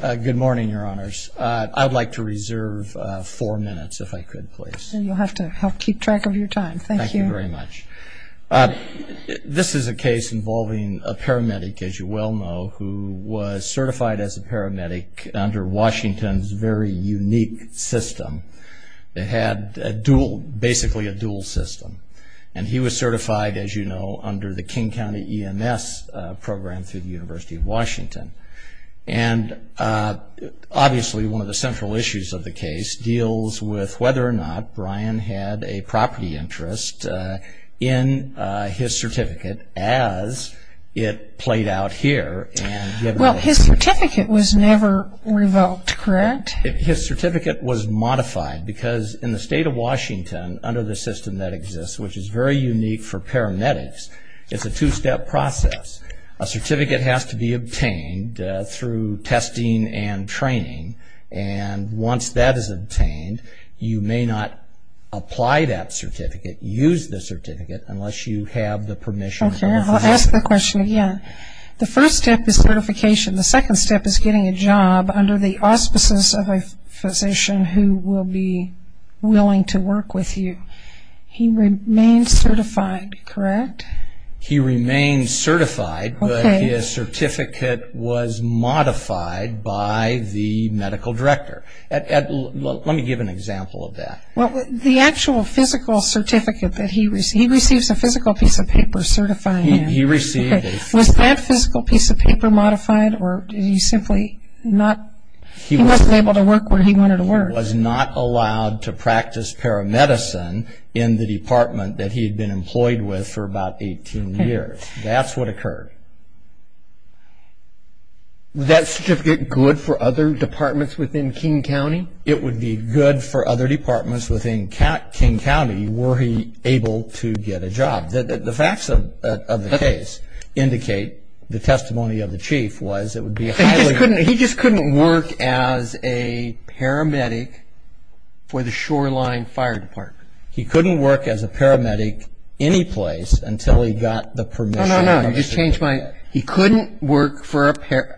Good morning, your honors. I'd like to reserve four minutes if I could, please. You'll have to help keep track of your time. Thank you very much. This is a case involving a paramedic, as you well know, who was certified as a paramedic under Washington's very unique system. They had a dual, basically a dual system, and he was certified, as you know, under the King County EMS program through the obviously one of the central issues of the case deals with whether or not Brian had a property interest in his certificate, as it played out here. Well, his certificate was never revoked, correct? His certificate was modified, because in the state of Washington, under the system that exists, which is very unique for paramedics, it's a two-step process. A certificate has to be obtained through testing and training, and once that is obtained, you may not apply that certificate, use the certificate, unless you have the permission. Okay, I'll ask the question again. The first step is certification. The second step is getting a job under the auspices of a physician who will be willing to work with you. He remained certified, correct? He remained certified, but his certificate was modified by the medical director. Let me give an example of that. The actual physical certificate that he received, he receives a physical piece of paper certifying him. He received a physical piece of paper. Was that physical piece of paper modified, or did he simply not, he wasn't able to work where he wanted to work? He was not allowed to practice paramedicine in the department that he had been employed with for about 18 years. That's what occurred. Was that certificate good for other departments within King County? It would be good for other departments within King County were he able to get a job. The facts of the case indicate, the testimony of the chief was, it would be highly... He just couldn't work as a paramedic for the Shoreline Fire Department. He couldn't work as a paramedic any place until he got the permission. No, no, no. You just changed my... He couldn't work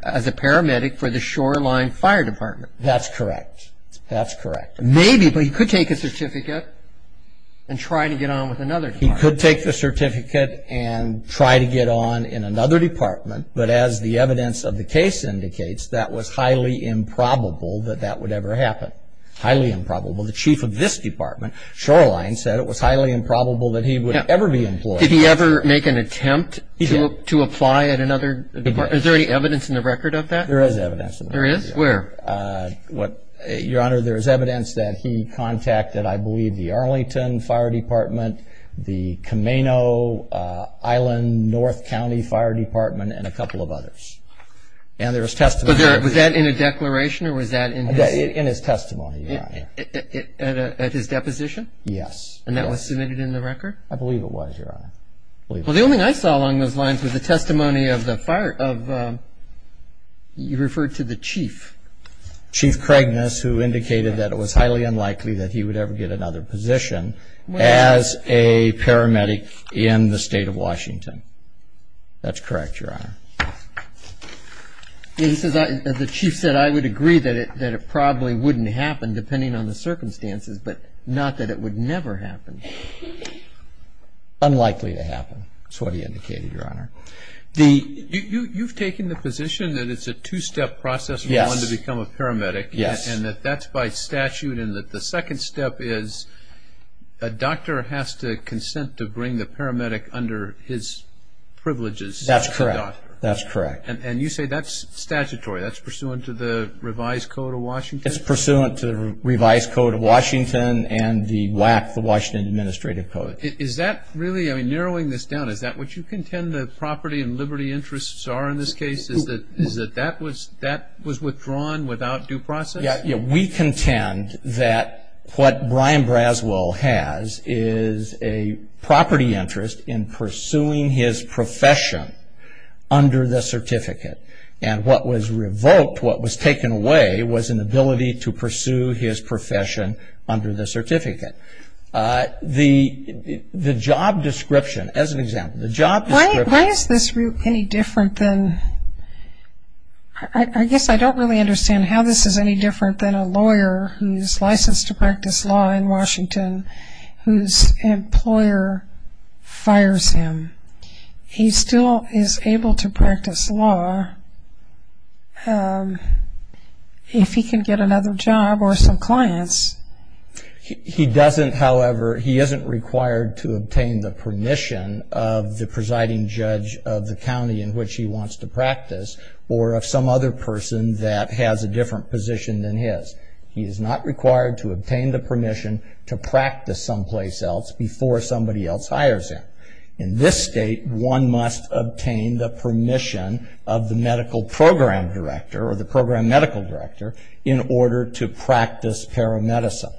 as a paramedic for the Shoreline Fire Department. That's correct. That's correct. Maybe, but he could take a certificate and try to get on with another department. He could take the certificate and try to get on in another department, but as the evidence of the case indicates, that was highly improbable that that would ever happen. Highly improbable. The chief of this department, Shoreline, said it was highly improbable that he would ever be employed. Did he ever make an attempt to apply at another department? Is there any evidence in the record of that? There is evidence. There is? Where? Your Honor, there is evidence that he contacted, I believe, the Arlington Fire Department, the Kameno Island North County Fire Department, and a couple of Was that in a declaration, or was that in his... In his testimony, Your Honor. At his deposition? Yes. And that was submitted in the record? I believe it was, Your Honor. Well, the only thing I saw along those lines was the testimony of the fire, of, you referred to the chief. Chief Craigness, who indicated that it was highly unlikely that he would ever get another position as a paramedic in the The chief said, I would agree that it probably wouldn't happen, depending on the circumstances, but not that it would never happen. Unlikely to happen, is what he indicated, Your Honor. You've taken the position that it's a two-step process for one to become a paramedic, and that that's by statute, and that the second step is a doctor has to consent to bring the paramedic under his privileges. That's correct. That's correct. And you say that's statutory, that's pursuant to the revised code of Washington? It's pursuant to the revised code of Washington, and the WAC, the Washington Administrative Code. Is that really, I mean, narrowing this down, is that what you contend the property and liberty interests are in this case? Is that, is that that was, that was withdrawn without due process? Yeah, we contend that what Brian Braswell has is a property interest in pursuing his profession under the certificate, and what was revoked what was taken away was an ability to pursue his profession under the certificate. The job description, as an example, the job description... Why is this any different than, I guess I don't really understand how this is any different than a lawyer who's licensed to practice law in Washington, whose employer fires him, he still is able to practice law if he can get another job or some clients? He doesn't, however, he isn't required to obtain the permission of the presiding judge of the county in which he wants to practice, or of some other person that has a different position than his. He is not required to obtain the permission to in this state, one must obtain the permission of the medical program director or the program medical director in order to practice paramedicine.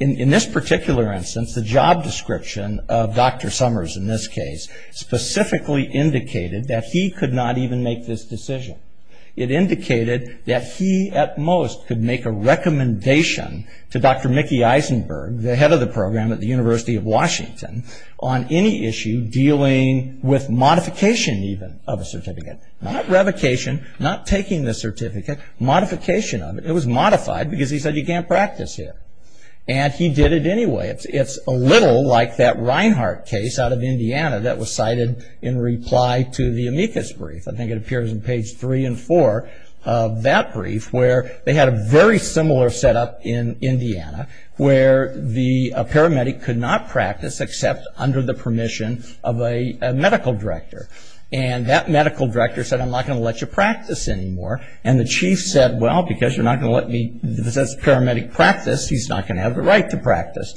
In this particular instance, the job description of Dr. Summers in this case specifically indicated that he could not even make this decision. It indicated that he, at most, could make a recommendation to Dr. Mickey Eisenberg, the head of the program at the University of Washington, on any issue dealing with modification even of a certificate. Not revocation, not taking the certificate, modification of it. It was modified because he said you can't practice here, and he did it anyway. It's a little like that Reinhart case out of Indiana that was cited in reply to the amicus brief. I think it appears in page three and four of that brief where they had a very similar setup in Indiana where the paramedic could not practice except under the permission of a medical director. And that medical director said I'm not going to let you practice anymore. And the chief said, well, because you're not going to let me this paramedic practice, he's not going to have the right to practice.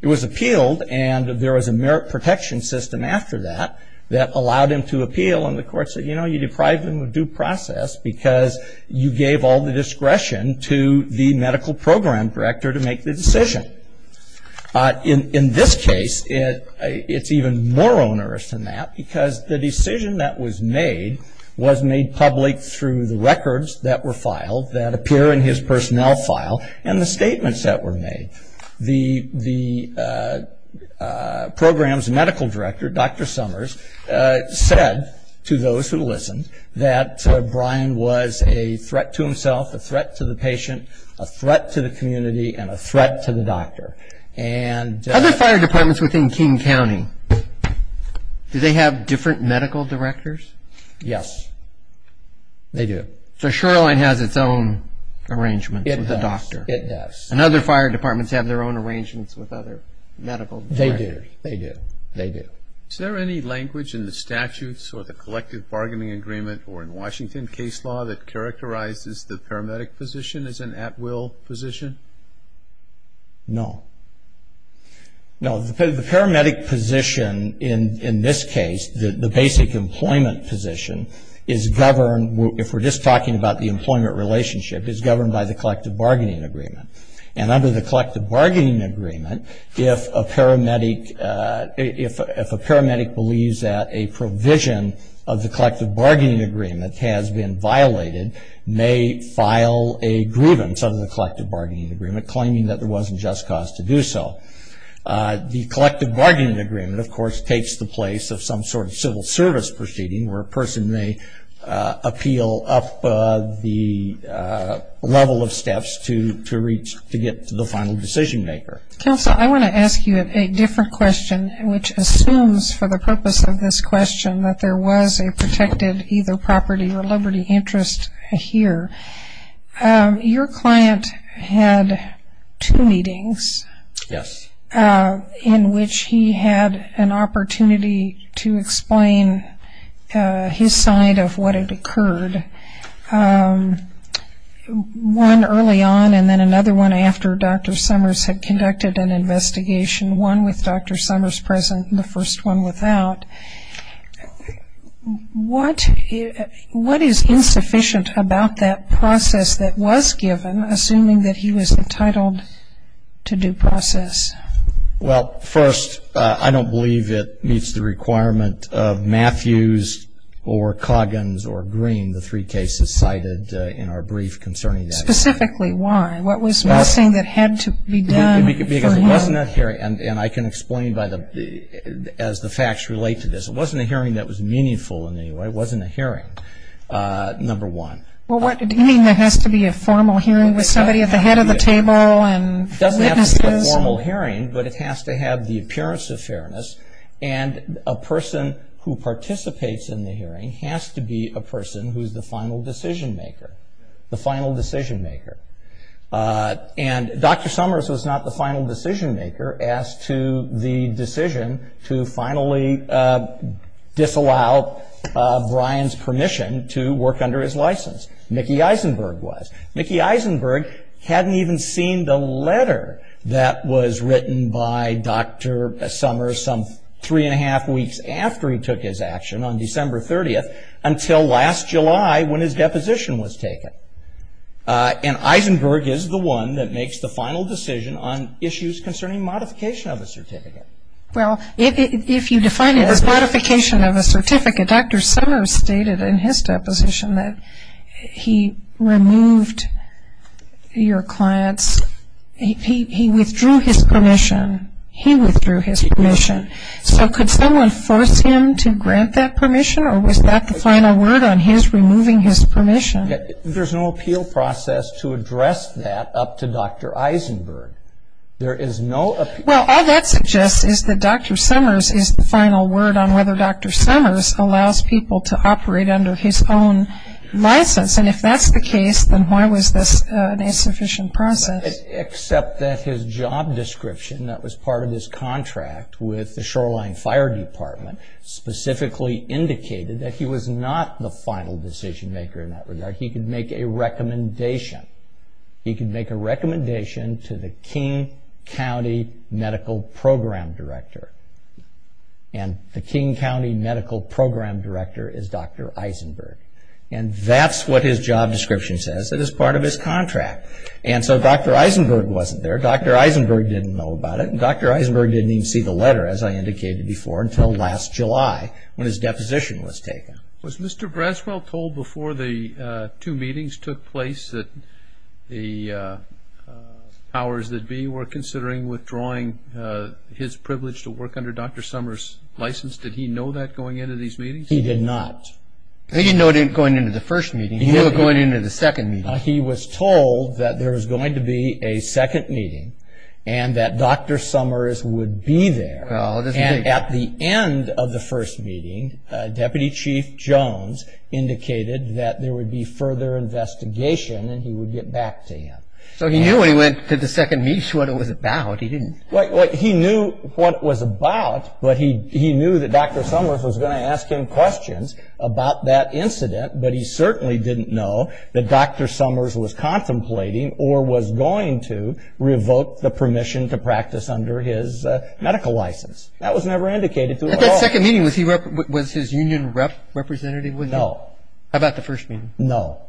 It was appealed, and there was a merit protection system after that that allowed him to appeal. And the court said, you know, you deprived him of due process because you gave all the discretion to the medical program director to make the decision. In this case, it's even more onerous than that because the decision that was made was made public through the records that were filed that appear in his personnel file and the statements that were made. The program's medical director, Dr. Summers, said to those who listened that Brian was a threat to himself, a threat to the patient, a threat to the community, and a threat to the doctor. Other fire departments within King County, do they have different medical directors? Yes, they do. So Shoreline has its own arrangements with the doctor. It does. And other fire departments have their own arrangements with other medical directors. They do. They do. They do. Is there any language in the statutes or the collective bargaining agreement or in Washington case law that characterizes the paramedic position as an at-will position? No. No. The paramedic position in this case, the basic employment position, is governed, if we're just talking about the employment relationship, is governed by the collective bargaining agreement. And under the collective bargaining agreement, if a paramedic believes that a provision of the collective bargaining agreement, claiming that there wasn't just cause to do so, the collective bargaining agreement, of course, takes the place of some sort of civil service proceeding where a person may appeal up the level of steps to reach, to get to the final decision maker. Counsel, I want to ask you a different question, which assumes, for the purpose of this question, that there was a protected either property or property. Yes. Dr. Grant had two meetings. Yes. In which he had an opportunity to explain his side of what had occurred, one early on and then another one after Dr. Summers had conducted an investigation, one with Dr. Summers present and the first one without. What is insufficient about that process that was given, assuming that he was entitled to due process? Well, first, I don't believe it meets the requirement of Matthews or Coggins or Green, the three cases cited in our brief concerning that. Specifically why? What was the last thing that had to be done for him? Because it wasn't a hearing, and I can explain as the facts relate to this. It wasn't a hearing that was meaningful in any way. It wasn't a hearing, number one. Do you mean there has to be a formal hearing with somebody at the head of the table and witnesses? It doesn't have to be a formal hearing, but it has to have the appearance of fairness, and a person who participates in the hearing has to be a person who is the final decision maker, the final decision maker. And Dr. Summers was not the final decision maker as to the decision to finally disallow Brian's permission to work under his license. Mickey Eisenberg was. Mickey Eisenberg hadn't even seen the letter that was written by Dr. Summers some three and a half weeks after he took his action on December 30th until last July when his deposition was taken. And Eisenberg is the one that makes the final decision on issues concerning modification of a certificate. Well, if you define it as modification of a certificate, Dr. Summers stated in his deposition that he removed your client's, he withdrew his permission. He withdrew his permission. So could someone force him to grant that permission, or was that the final word on his removing his permission? There's no appeal process to address that up to Dr. Eisenberg. There is no appeal. Well, all that suggests is that Dr. Summers is the final word on whether Dr. Summers allows people to operate under his own license. And if that's the case, then why was this an insufficient process? Except that his job description that was part of his contract with the Shoreline Fire Department specifically indicated that he was not the final decision maker in that regard. He could make a recommendation. He could make a recommendation to the King County Medical Program Director, and the King County Medical Program Director is Dr. Eisenberg. And that's what his job description says. It is part of his contract. And so Dr. Eisenberg wasn't there. Dr. Eisenberg didn't know about it, and Dr. Eisenberg didn't even see the letter, as I indicated before, until last July when his deposition was taken. Was Mr. Braswell told before the two meetings took place that the powers that be were considering withdrawing his privilege to work under Dr. Summers' license? Did he know that going into these meetings? He did not. He didn't know it going into the first meeting. He knew it going into the second meeting. He was told that there was going to be a second meeting and that Dr. Summers would be there. And at the end of the first meeting, Deputy Chief Jones indicated that there would be further investigation and he would get back to him. So he knew when he went to the second meeting what it was about. He didn't know. He knew what it was about, but he knew that Dr. Summers was going to ask him questions about that incident, but he certainly didn't know that Dr. Summers was contemplating or was going to revoke the permission to work under Dr. Summers' license. That was never indicated to him at all. At that second meeting, was his union rep representative? No. How about the first meeting? No.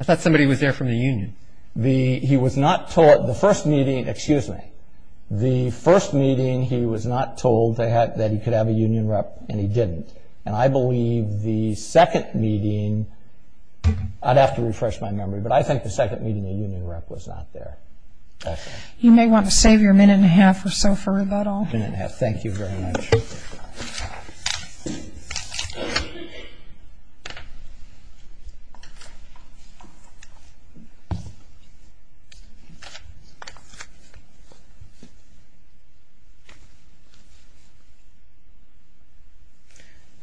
I thought somebody was there from the union. He was not told. The first meeting, excuse me. The first meeting, he was not told that he could have a union rep and he didn't. And I believe the second meeting, I'd have to refresh my memory, but I think the second meeting the union rep was not there. You may want to save your minute and a half or so for rebuttal. A minute and a half. Thank you very much.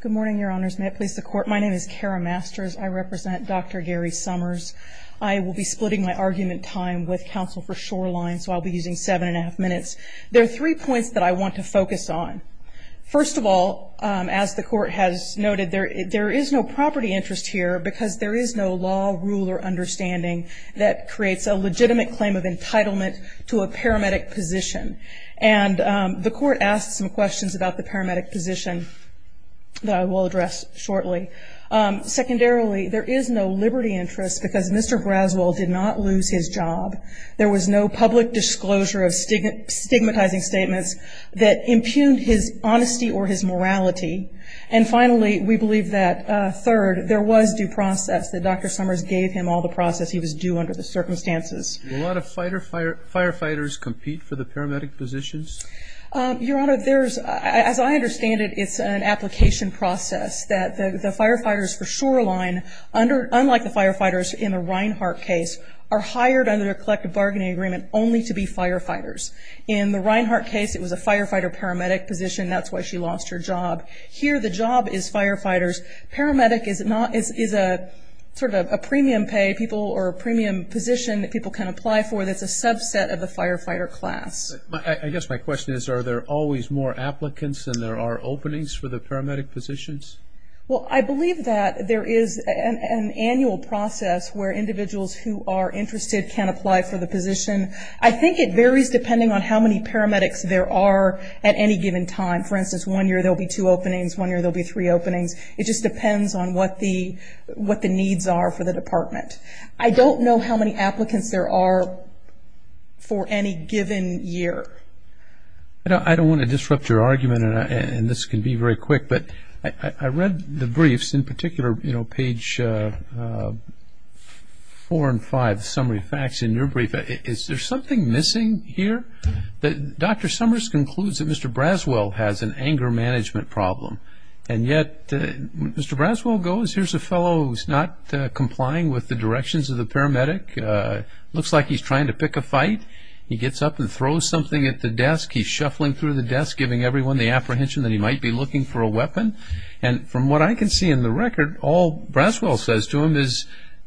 Good morning, Your Honors. May it please the Court. My name is Kara Masters. I represent Dr. Gary Summers. I will be splitting my argument time with counsel for shoreline, so I'll be using seven and a half minutes. There are three points that I want to focus on. First of all, as the Court has noted, there is no property interest here because there is no law, rule, or understanding that creates a legitimate claim of entitlement to a paramedic position. And the Court asked some questions about the paramedic position that I will address shortly. Secondarily, there is no liberty interest because Mr. Graswell did not lose his job. There was no public disclosure of stigmatizing statements that impugned his honesty or his morality. And finally, we believe that third, there was due process, that Dr. Summers gave him all the process. He was due under the circumstances. Will a lot of firefighters compete for the paramedic positions? Your Honor, as I understand it, it's an application process that the firefighters for shoreline, unlike the firefighters in the Reinhart case, are hired under a collective bargaining agreement only to be firefighters. In the Reinhart case, it was a firefighter paramedic position. That's why she lost her job. Here, the job is firefighters. Paramedic is a sort of a premium pay people or a premium position that people can apply for that's a subset of the firefighter class. I guess my question is, are there always more applicants than there are openings for the paramedic positions? Well, I believe that there is an annual process where individuals who are interested can apply for the position. I think it varies depending on how many paramedics there are at any given time. For instance, one year, there will be two openings. One year, there will be three openings. It just depends on what the needs are for the department. I don't know how many applicants there are for any given year. I don't want to disrupt your argument, and this can be very quick, but I read the briefs, in particular, page four and five, summary facts in your brief. Is there something missing here? Dr. Summers concludes that Mr. Braswell has an anger management problem, and yet Mr. Braswell goes, here's a fellow who's not complying with the directions of the paramedic. Looks like he's trying to pick a fight. He gets up and throws something at the desk. He's shuffling through the desk, giving everyone the apprehension that he might be looking for a weapon. From what I can see in the record, all Braswell says to him is,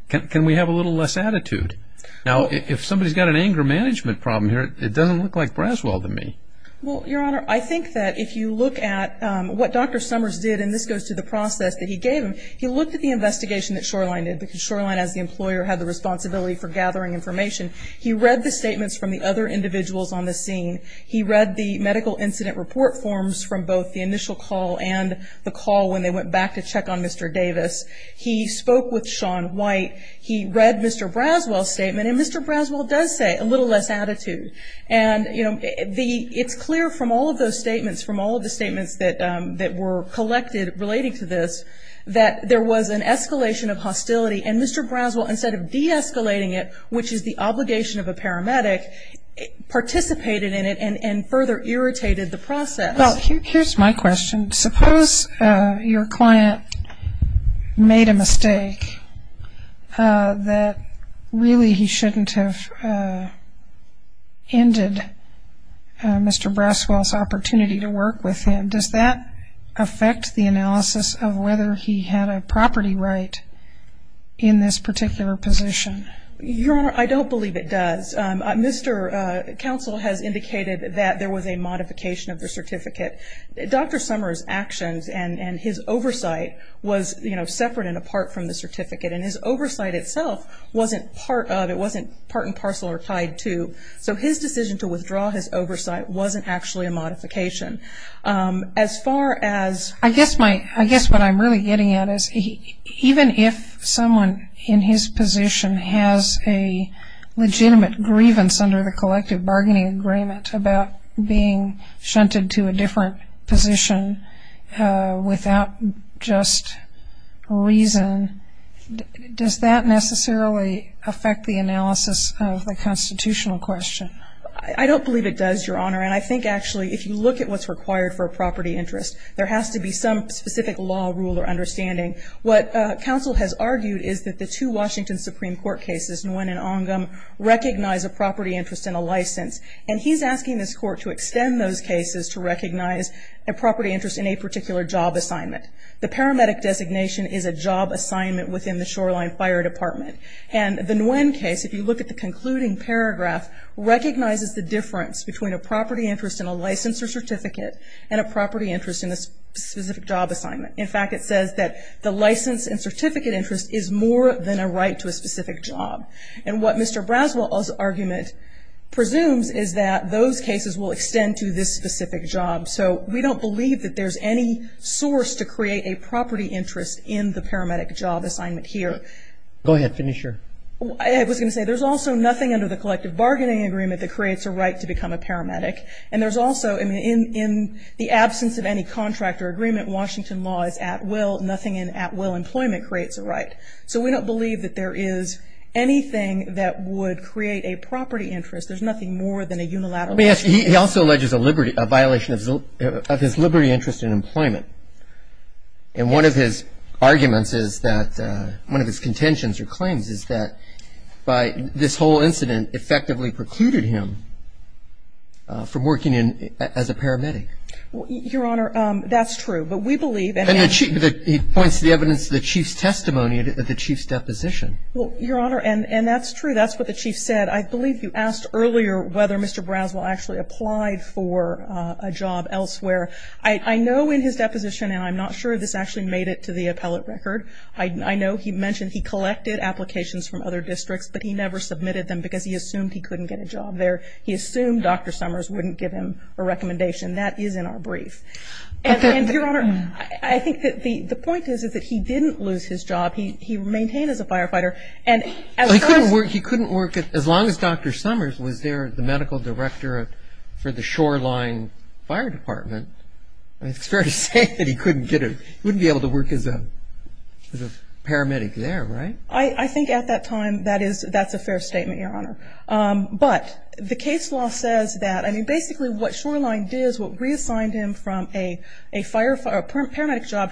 can we have a little less attitude? Now, if somebody's got an anger management problem here, it doesn't look like Braswell to me. Well, Your Honor, I think that if you look at what Dr. Summers did, and this goes to the process that he gave him, he looked at the investigation that Shoreline did, because Shoreline, as the employer, had the responsibility for gathering information. He read the statements from the other individuals on the scene. He read the medical incident report forms from both the initial call and the call when they went back to check on Mr. Davis. He spoke with Sean White. He read Mr. Braswell's statement, and Mr. Braswell does say, a little less attitude. And, you know, it's clear from all of those statements, from all of the statements that were collected relating to this, that there was an escalation of hostility, and Mr. Braswell, instead of de-escalating it, which is the obligation of a paramedic, participated in it and further irritated the process. Well, here's my question. Suppose your client made a mistake that, really, he shouldn't have ended Mr. Braswell's opportunity to work with him. Does that affect the analysis of whether he had a property right in this particular position? Your Honor, I don't believe it does. Mr. Counsel has indicated that there was a modification of the certificate. Dr. Summers' actions and his oversight was, you know, separate and apart from the certificate, and his oversight itself wasn't part of, it wasn't part and parcel or tied to. So his decision to withdraw his oversight wasn't actually a modification. As far as- I guess what I'm really getting at is, even if someone in his position has a legitimate grievance under the collective bargaining agreement about being shunted to a different position without just reason, does that necessarily affect the analysis of the constitutional question? I don't believe it does, Your Honor. And I think, actually, if you look at what's required for a property interest, there has to be some specific law, rule, or understanding. What Counsel has argued is that the two Washington Supreme Court cases, Nguyen and Ongam, recognize a property interest and a license. And he's asking this Court to extend those cases to recognize a property interest in a particular job assignment. The paramedic designation is a job assignment within the Shoreline Fire Department. And the Nguyen case, if you look at the concluding paragraph, recognizes the difference between a property interest in a license or certificate and a property interest in a specific job assignment. In fact, it says that the license and certificate interest is more than a right to a specific job. And what Mr. Braswell's argument presumes is that those cases will extend to this specific job. So we don't believe that there's any source to create a property interest in the paramedic job assignment here. Go ahead. Finish your- I was going to say, there's also nothing under the collective bargaining agreement that creates a right to become a paramedic. And there's also, in the absence of any contract or agreement, Washington law is at will, nothing in at will employment creates a right. So we don't believe that there is anything that would create a property interest. There's nothing more than a unilateral- He also alleges a violation of his liberty interest in employment. And one of his arguments is that, one of his contentions or claims is that, this whole incident effectively precluded him from working as a paramedic. Your Honor, that's true. But we believe- And he points to the evidence of the Chief's testimony at the Chief's deposition. Well, Your Honor, and that's true. That's what the Chief said. I believe you asked earlier whether Mr. Braswell actually applied for a job elsewhere. I know in his deposition, and I'm not sure if this actually made it to the appellate record, I know he mentioned he collected applications from other districts, but he never submitted them because he assumed he couldn't get a job there. He assumed Dr. Summers wouldn't give him a recommendation. That is in our brief. And, Your Honor, I think that the point is, is that he didn't lose his job. He maintained as a firefighter. Well, he couldn't work as long as Dr. Summers was there, the medical director for the Shoreline Fire Department. It's fair to say that he couldn't get a- He wouldn't be able to work as a paramedic there, right? I think at that time, that's a fair statement, Your Honor. But the case law says that, I mean, basically what Shoreline did is what reassigned him from a paramedic job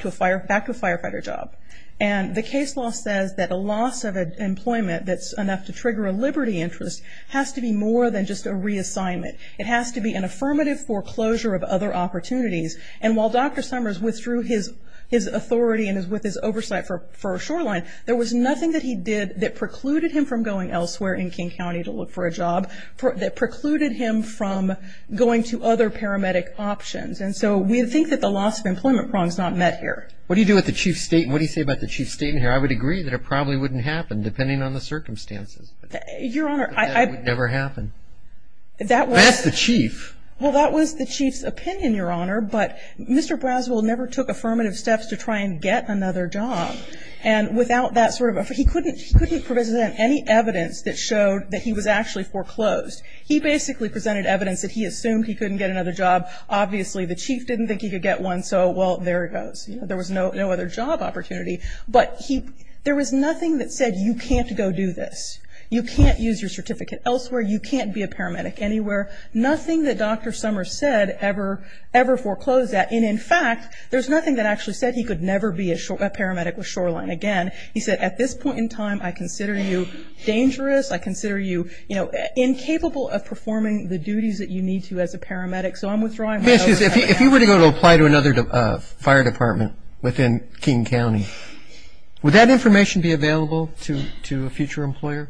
back to a firefighter job. And the case law says that a loss of employment that's enough to trigger a liberty interest has to be more than just a reassignment. It has to be an affirmative foreclosure of other opportunities. And while Dr. Summers withdrew his authority and with his oversight for Shoreline, there was nothing that he did that precluded him from going elsewhere in King County to look for a job, that precluded him from going to other paramedic options. And so we think that the loss of employment problem is not met here. What do you do with the chief statement? What do you say about the chief statement here? I would agree that it probably wouldn't happen, depending on the circumstances. Your Honor, I- But that would never happen. That was- That's the chief. Well, that was the chief's opinion, Your Honor. But Mr. Braswell never took affirmative steps to try and get another job. And without that sort of- He couldn't present any evidence that showed that he was actually foreclosed. He basically presented evidence that he assumed he couldn't get another job. Obviously, the chief didn't think he could get one, so, well, there it goes. There was no other job opportunity. But there was nothing that said, you can't go do this. You can't use your certificate elsewhere. You can't be a paramedic anywhere. Nothing that Dr. Summers said ever foreclosed that. And in fact, there's nothing that actually said he could never be a paramedic with Shoreline again. He said, at this point in time, I consider you dangerous. I consider you, you know, incapable of performing the duties that you need to as a paramedic. So I'm withdrawing- Miss, if you were to go to apply to another fire department within King County, would that information be available to a future employer?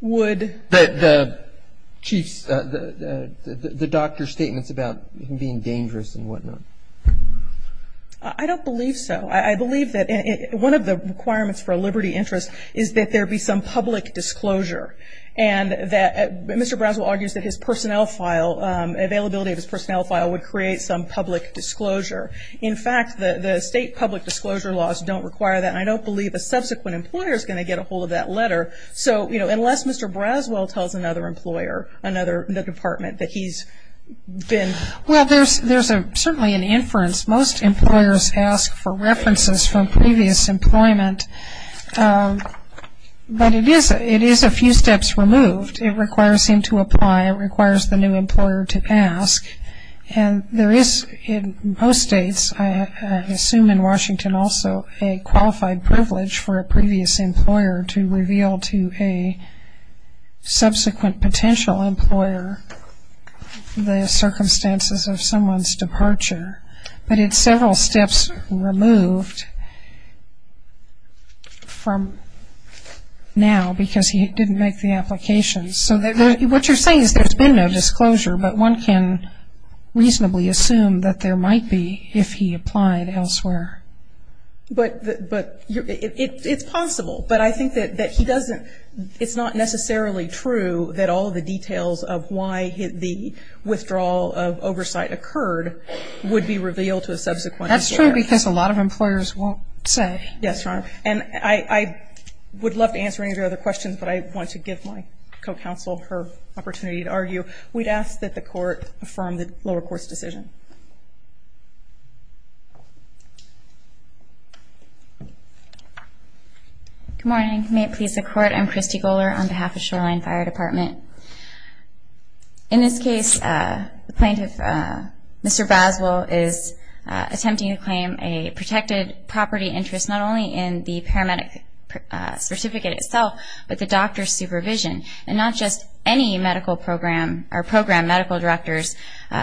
Would- The chief's, the doctor's statements about him being dangerous and whatnot. I don't believe so. I believe that one of the requirements for a liberty interest is that there be some public disclosure. And that- Mr. Braswell argues that his personnel file, availability of his personnel file, would create some public disclosure. In fact, the state public disclosure laws don't require that. And I don't believe a subsequent employer is going to get a hold of that letter. So, you know, unless Mr. Braswell tells another employer, another- the department that he's been- Well, there's certainly an inference. Most employers ask for references from previous employment. But it is a few steps removed. It requires him to apply. It requires the new employer to ask. And there is, in most states, I assume in Washington also, a qualified privilege for a previous employer to reveal to a subsequent potential employer the circumstances of someone's departure. But it's several steps removed from now because he didn't make the application. So what you're saying is there's been no disclosure, but one can reasonably assume that there might be if he applied elsewhere. But it's possible. But I think that he doesn't- It's not necessarily true that all of the details of why the withdrawal of oversight occurred would be revealed to a subsequent employer. That's true because a lot of employers won't say. Yes, Your Honor. And I would love to answer any of your other questions, but I want to give my co-counsel her opportunity to argue. We'd ask that the Court affirm the lower court's decision. Good morning. May it please the Court. I'm Christy Goler on behalf of Shoreline Fire Department. In this case, the plaintiff, Mr. Boswell, is attempting to claim a protected property interest not only in the paramedic certificate itself, but the doctor's supervision. And not just any medical program or program medical director's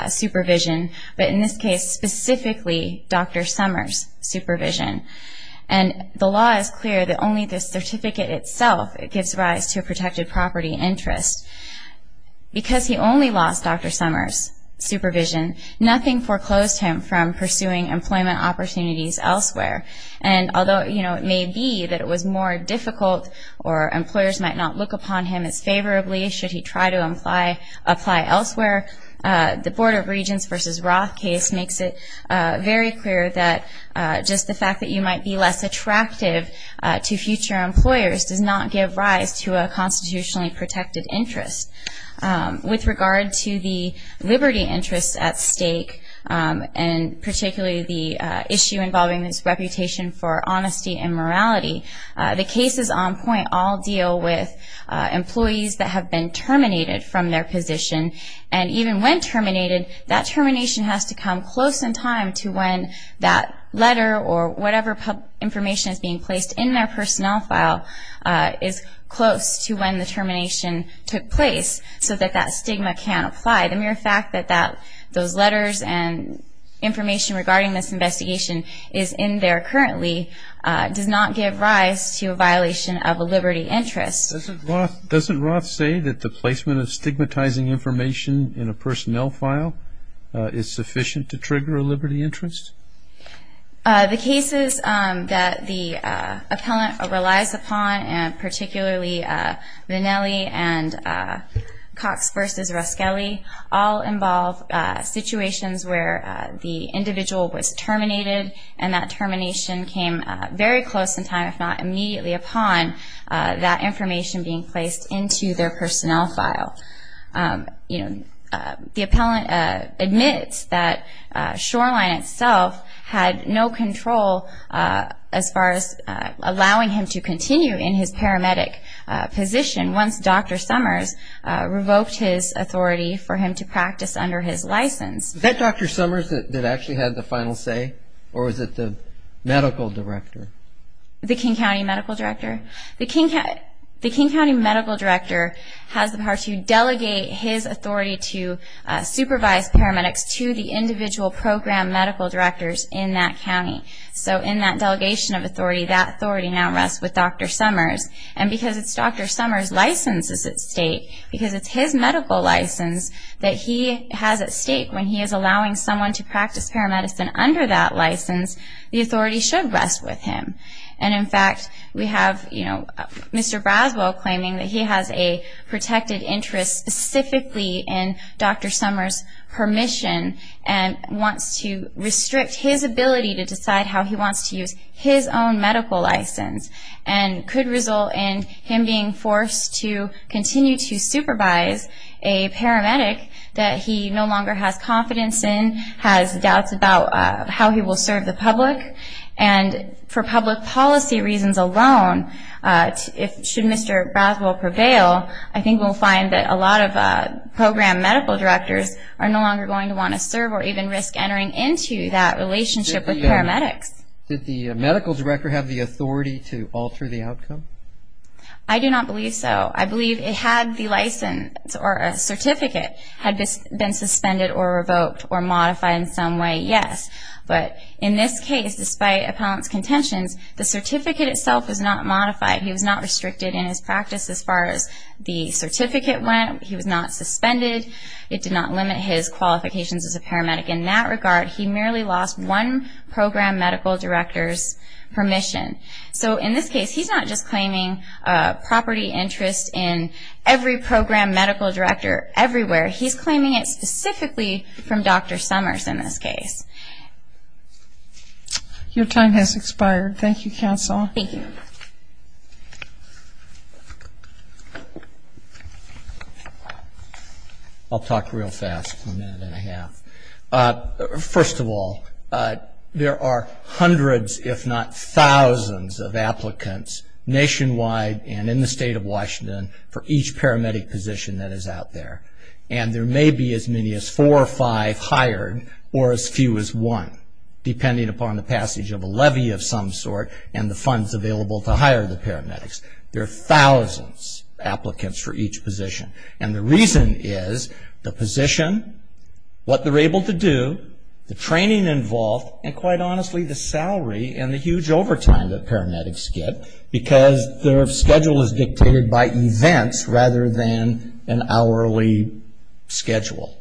supervision, but in this case, specifically, Dr. Summers' supervision. And the law is clear that only the certificate itself gives rise to a protected property interest. Because he only lost Dr. Summers' supervision, nothing foreclosed him from pursuing employment opportunities elsewhere. And although it may be that it was more difficult or employers might not look upon him as favorably should he try to apply elsewhere, the Board of Regents v. Roth case makes it very clear that just the fact that you might be less attractive to future employers does not give rise to a constitutionally protected interest. With regard to the liberty interest at stake, and particularly the issue involving this reputation for honesty and morality, the cases on point all deal with employees that have been terminated from their position. And even when terminated, that termination has to come close in time to when that letter or whatever information is being placed in their personnel file is close to when the termination took place so that that stigma can apply. The mere fact that those letters and information regarding this investigation is in there currently does not give rise to a violation of a liberty interest. Doesn't Roth say that the placement of stigmatizing information in a personnel file is sufficient to trigger a liberty interest? The cases that the appellant relies upon, and particularly Vannelli and Cox v. Ruskelly all involve situations where the individual was terminated and that termination came very close in time, if not immediately upon that information being placed into their personnel file. The appellant admits that Shoreline itself had no control as far as allowing him to continue in his paramedic position once Dr. Summers revoked his authority for him to practice under his license. Was that Dr. Summers that actually had the final say? Or was it the medical director? The King County Medical Director? The King County Medical Director has the power to delegate his authority to supervise paramedics to the individual program medical directors in that county. So in that delegation of authority, that authority now rests with Dr. Summers. And because it's Dr. Summers' license that's at stake, because it's his medical license that he has at stake when he is allowing someone to practice paramedicine under that license, the authority should rest with him. And in fact, we have Mr. Braswell claiming that he has a protected interest specifically in Dr. Summers' permission and wants to restrict his ability to decide how he wants to use his own medical license and could result in him being forced to continue to supervise a paramedic that he no longer has confidence in, has doubts about how he will serve the public. And for public policy reasons alone, should Mr. Braswell prevail, I think we will find that a lot of program medical directors are no longer going to want to serve or even risk entering into that relationship with paramedics. Did the medical director have the authority to alter the outcome? I do not believe so. I believe it had the license or a certificate had been suspended or revoked or modified in some way, yes. But in this case, despite appellant's contentions, the certificate itself was not modified. He was not suspended. It did not limit his qualifications as a paramedic in that regard. He merely lost one program medical director's permission. So in this case, he's not just claiming property interest in every program medical director everywhere. He's claiming it specifically from Dr. Summers in this case. Your time has expired. Thank you, Counsel. Thank you. I'll talk real fast for a minute and a half. First of all, there are hundreds if not thousands of applicants nationwide and in the state of Washington for each paramedic position that is out there. And there may be as many as four or five hired or as few as one, depending upon the passage of a levy of some sort and the funds available to hire the paramedics. There are thousands applicants for each position. And the reason is the position, what they're able to do, the training involved, and quite honestly, the salary and the huge overtime that paramedics get because their schedule is dictated by events rather than an hourly schedule.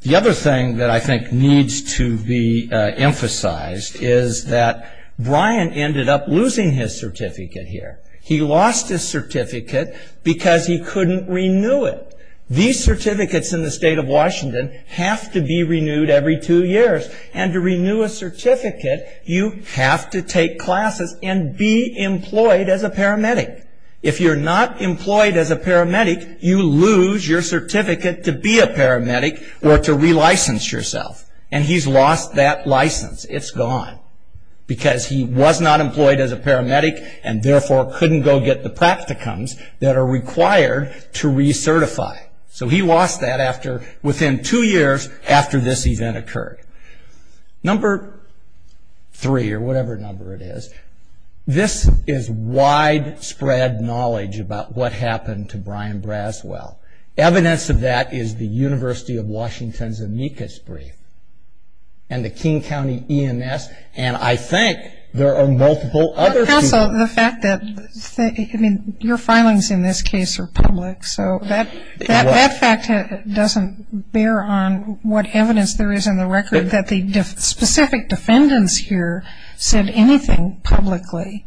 The other thing that I think needs to be emphasized is that Brian ended up losing his certificate here. He lost his certificate because he couldn't renew it. These certificates in the state of Washington have to be renewed every two years. And to renew a certificate, you have to take classes and be employed as a paramedic. If you're not employed as a paramedic, you lose your certificate to be a paramedic or to relicense yourself. And he's lost that license. It's gone. Because he was not employed as a paramedic and therefore couldn't go get the practicums that are required to recertify. So he lost that within two years after this event occurred. Number three, or whatever number it is, this is widespread knowledge about what happened to Brian Braswell. Evidence of that is the University of Washington's amicus brief and the King County EMS. And I think there are multiple other... Counsel, the fact that your filings in this case are public, so that fact doesn't bear on what evidence there is in the record that the specific defendants here said anything publicly.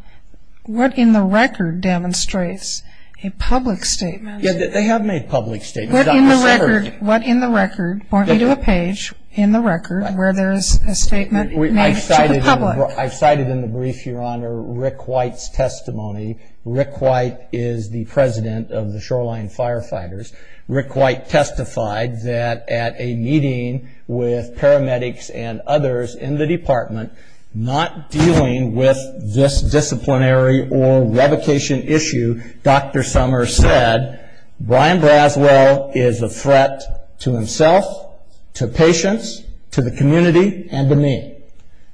What in the record demonstrates a public statement... Yeah, they have made public statements. What in the record, point me to a page in the record where there is a statement made to the public. I cited in the brief your honor, Rick White's testimony. Rick White is the president of the Shoreline Firefighters. Rick White testified that at a meeting with paramedics and others in the department, not dealing with this disciplinary or revocation issue, Dr. Summers said Brian Braswell is a threat to himself, to patients, to the community, and to me.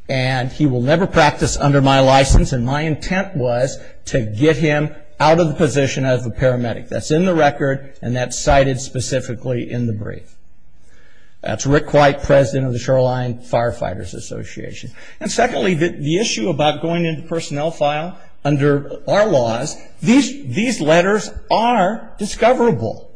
And he will never practice under my license and my intent was to get him out of the position as a paramedic. That's in the record and that's cited specifically in the brief. That's Rick White, president of the Shoreline Firefighters Association. And secondly, the issue about going into the personnel file under our laws, these letters are discoverable.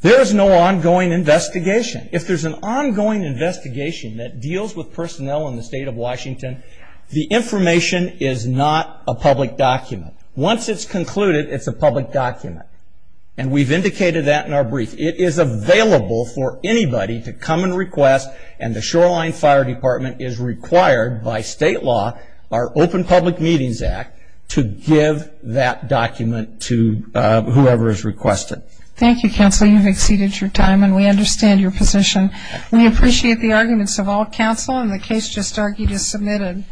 There is no ongoing investigation. If there's an ongoing investigation that deals with personnel in the state of Washington, the information is not a public document. Once it's concluded, it's a public document. And we've indicated that in our brief. It is available for anybody to come and request and the Shoreline Fire Department is required by state law, our Open Public Meetings Act, to give that document to you. Thank you, Counsel. You've exceeded your time and we understand your position. We appreciate the arguments of all counsel and the case just argued is submitted.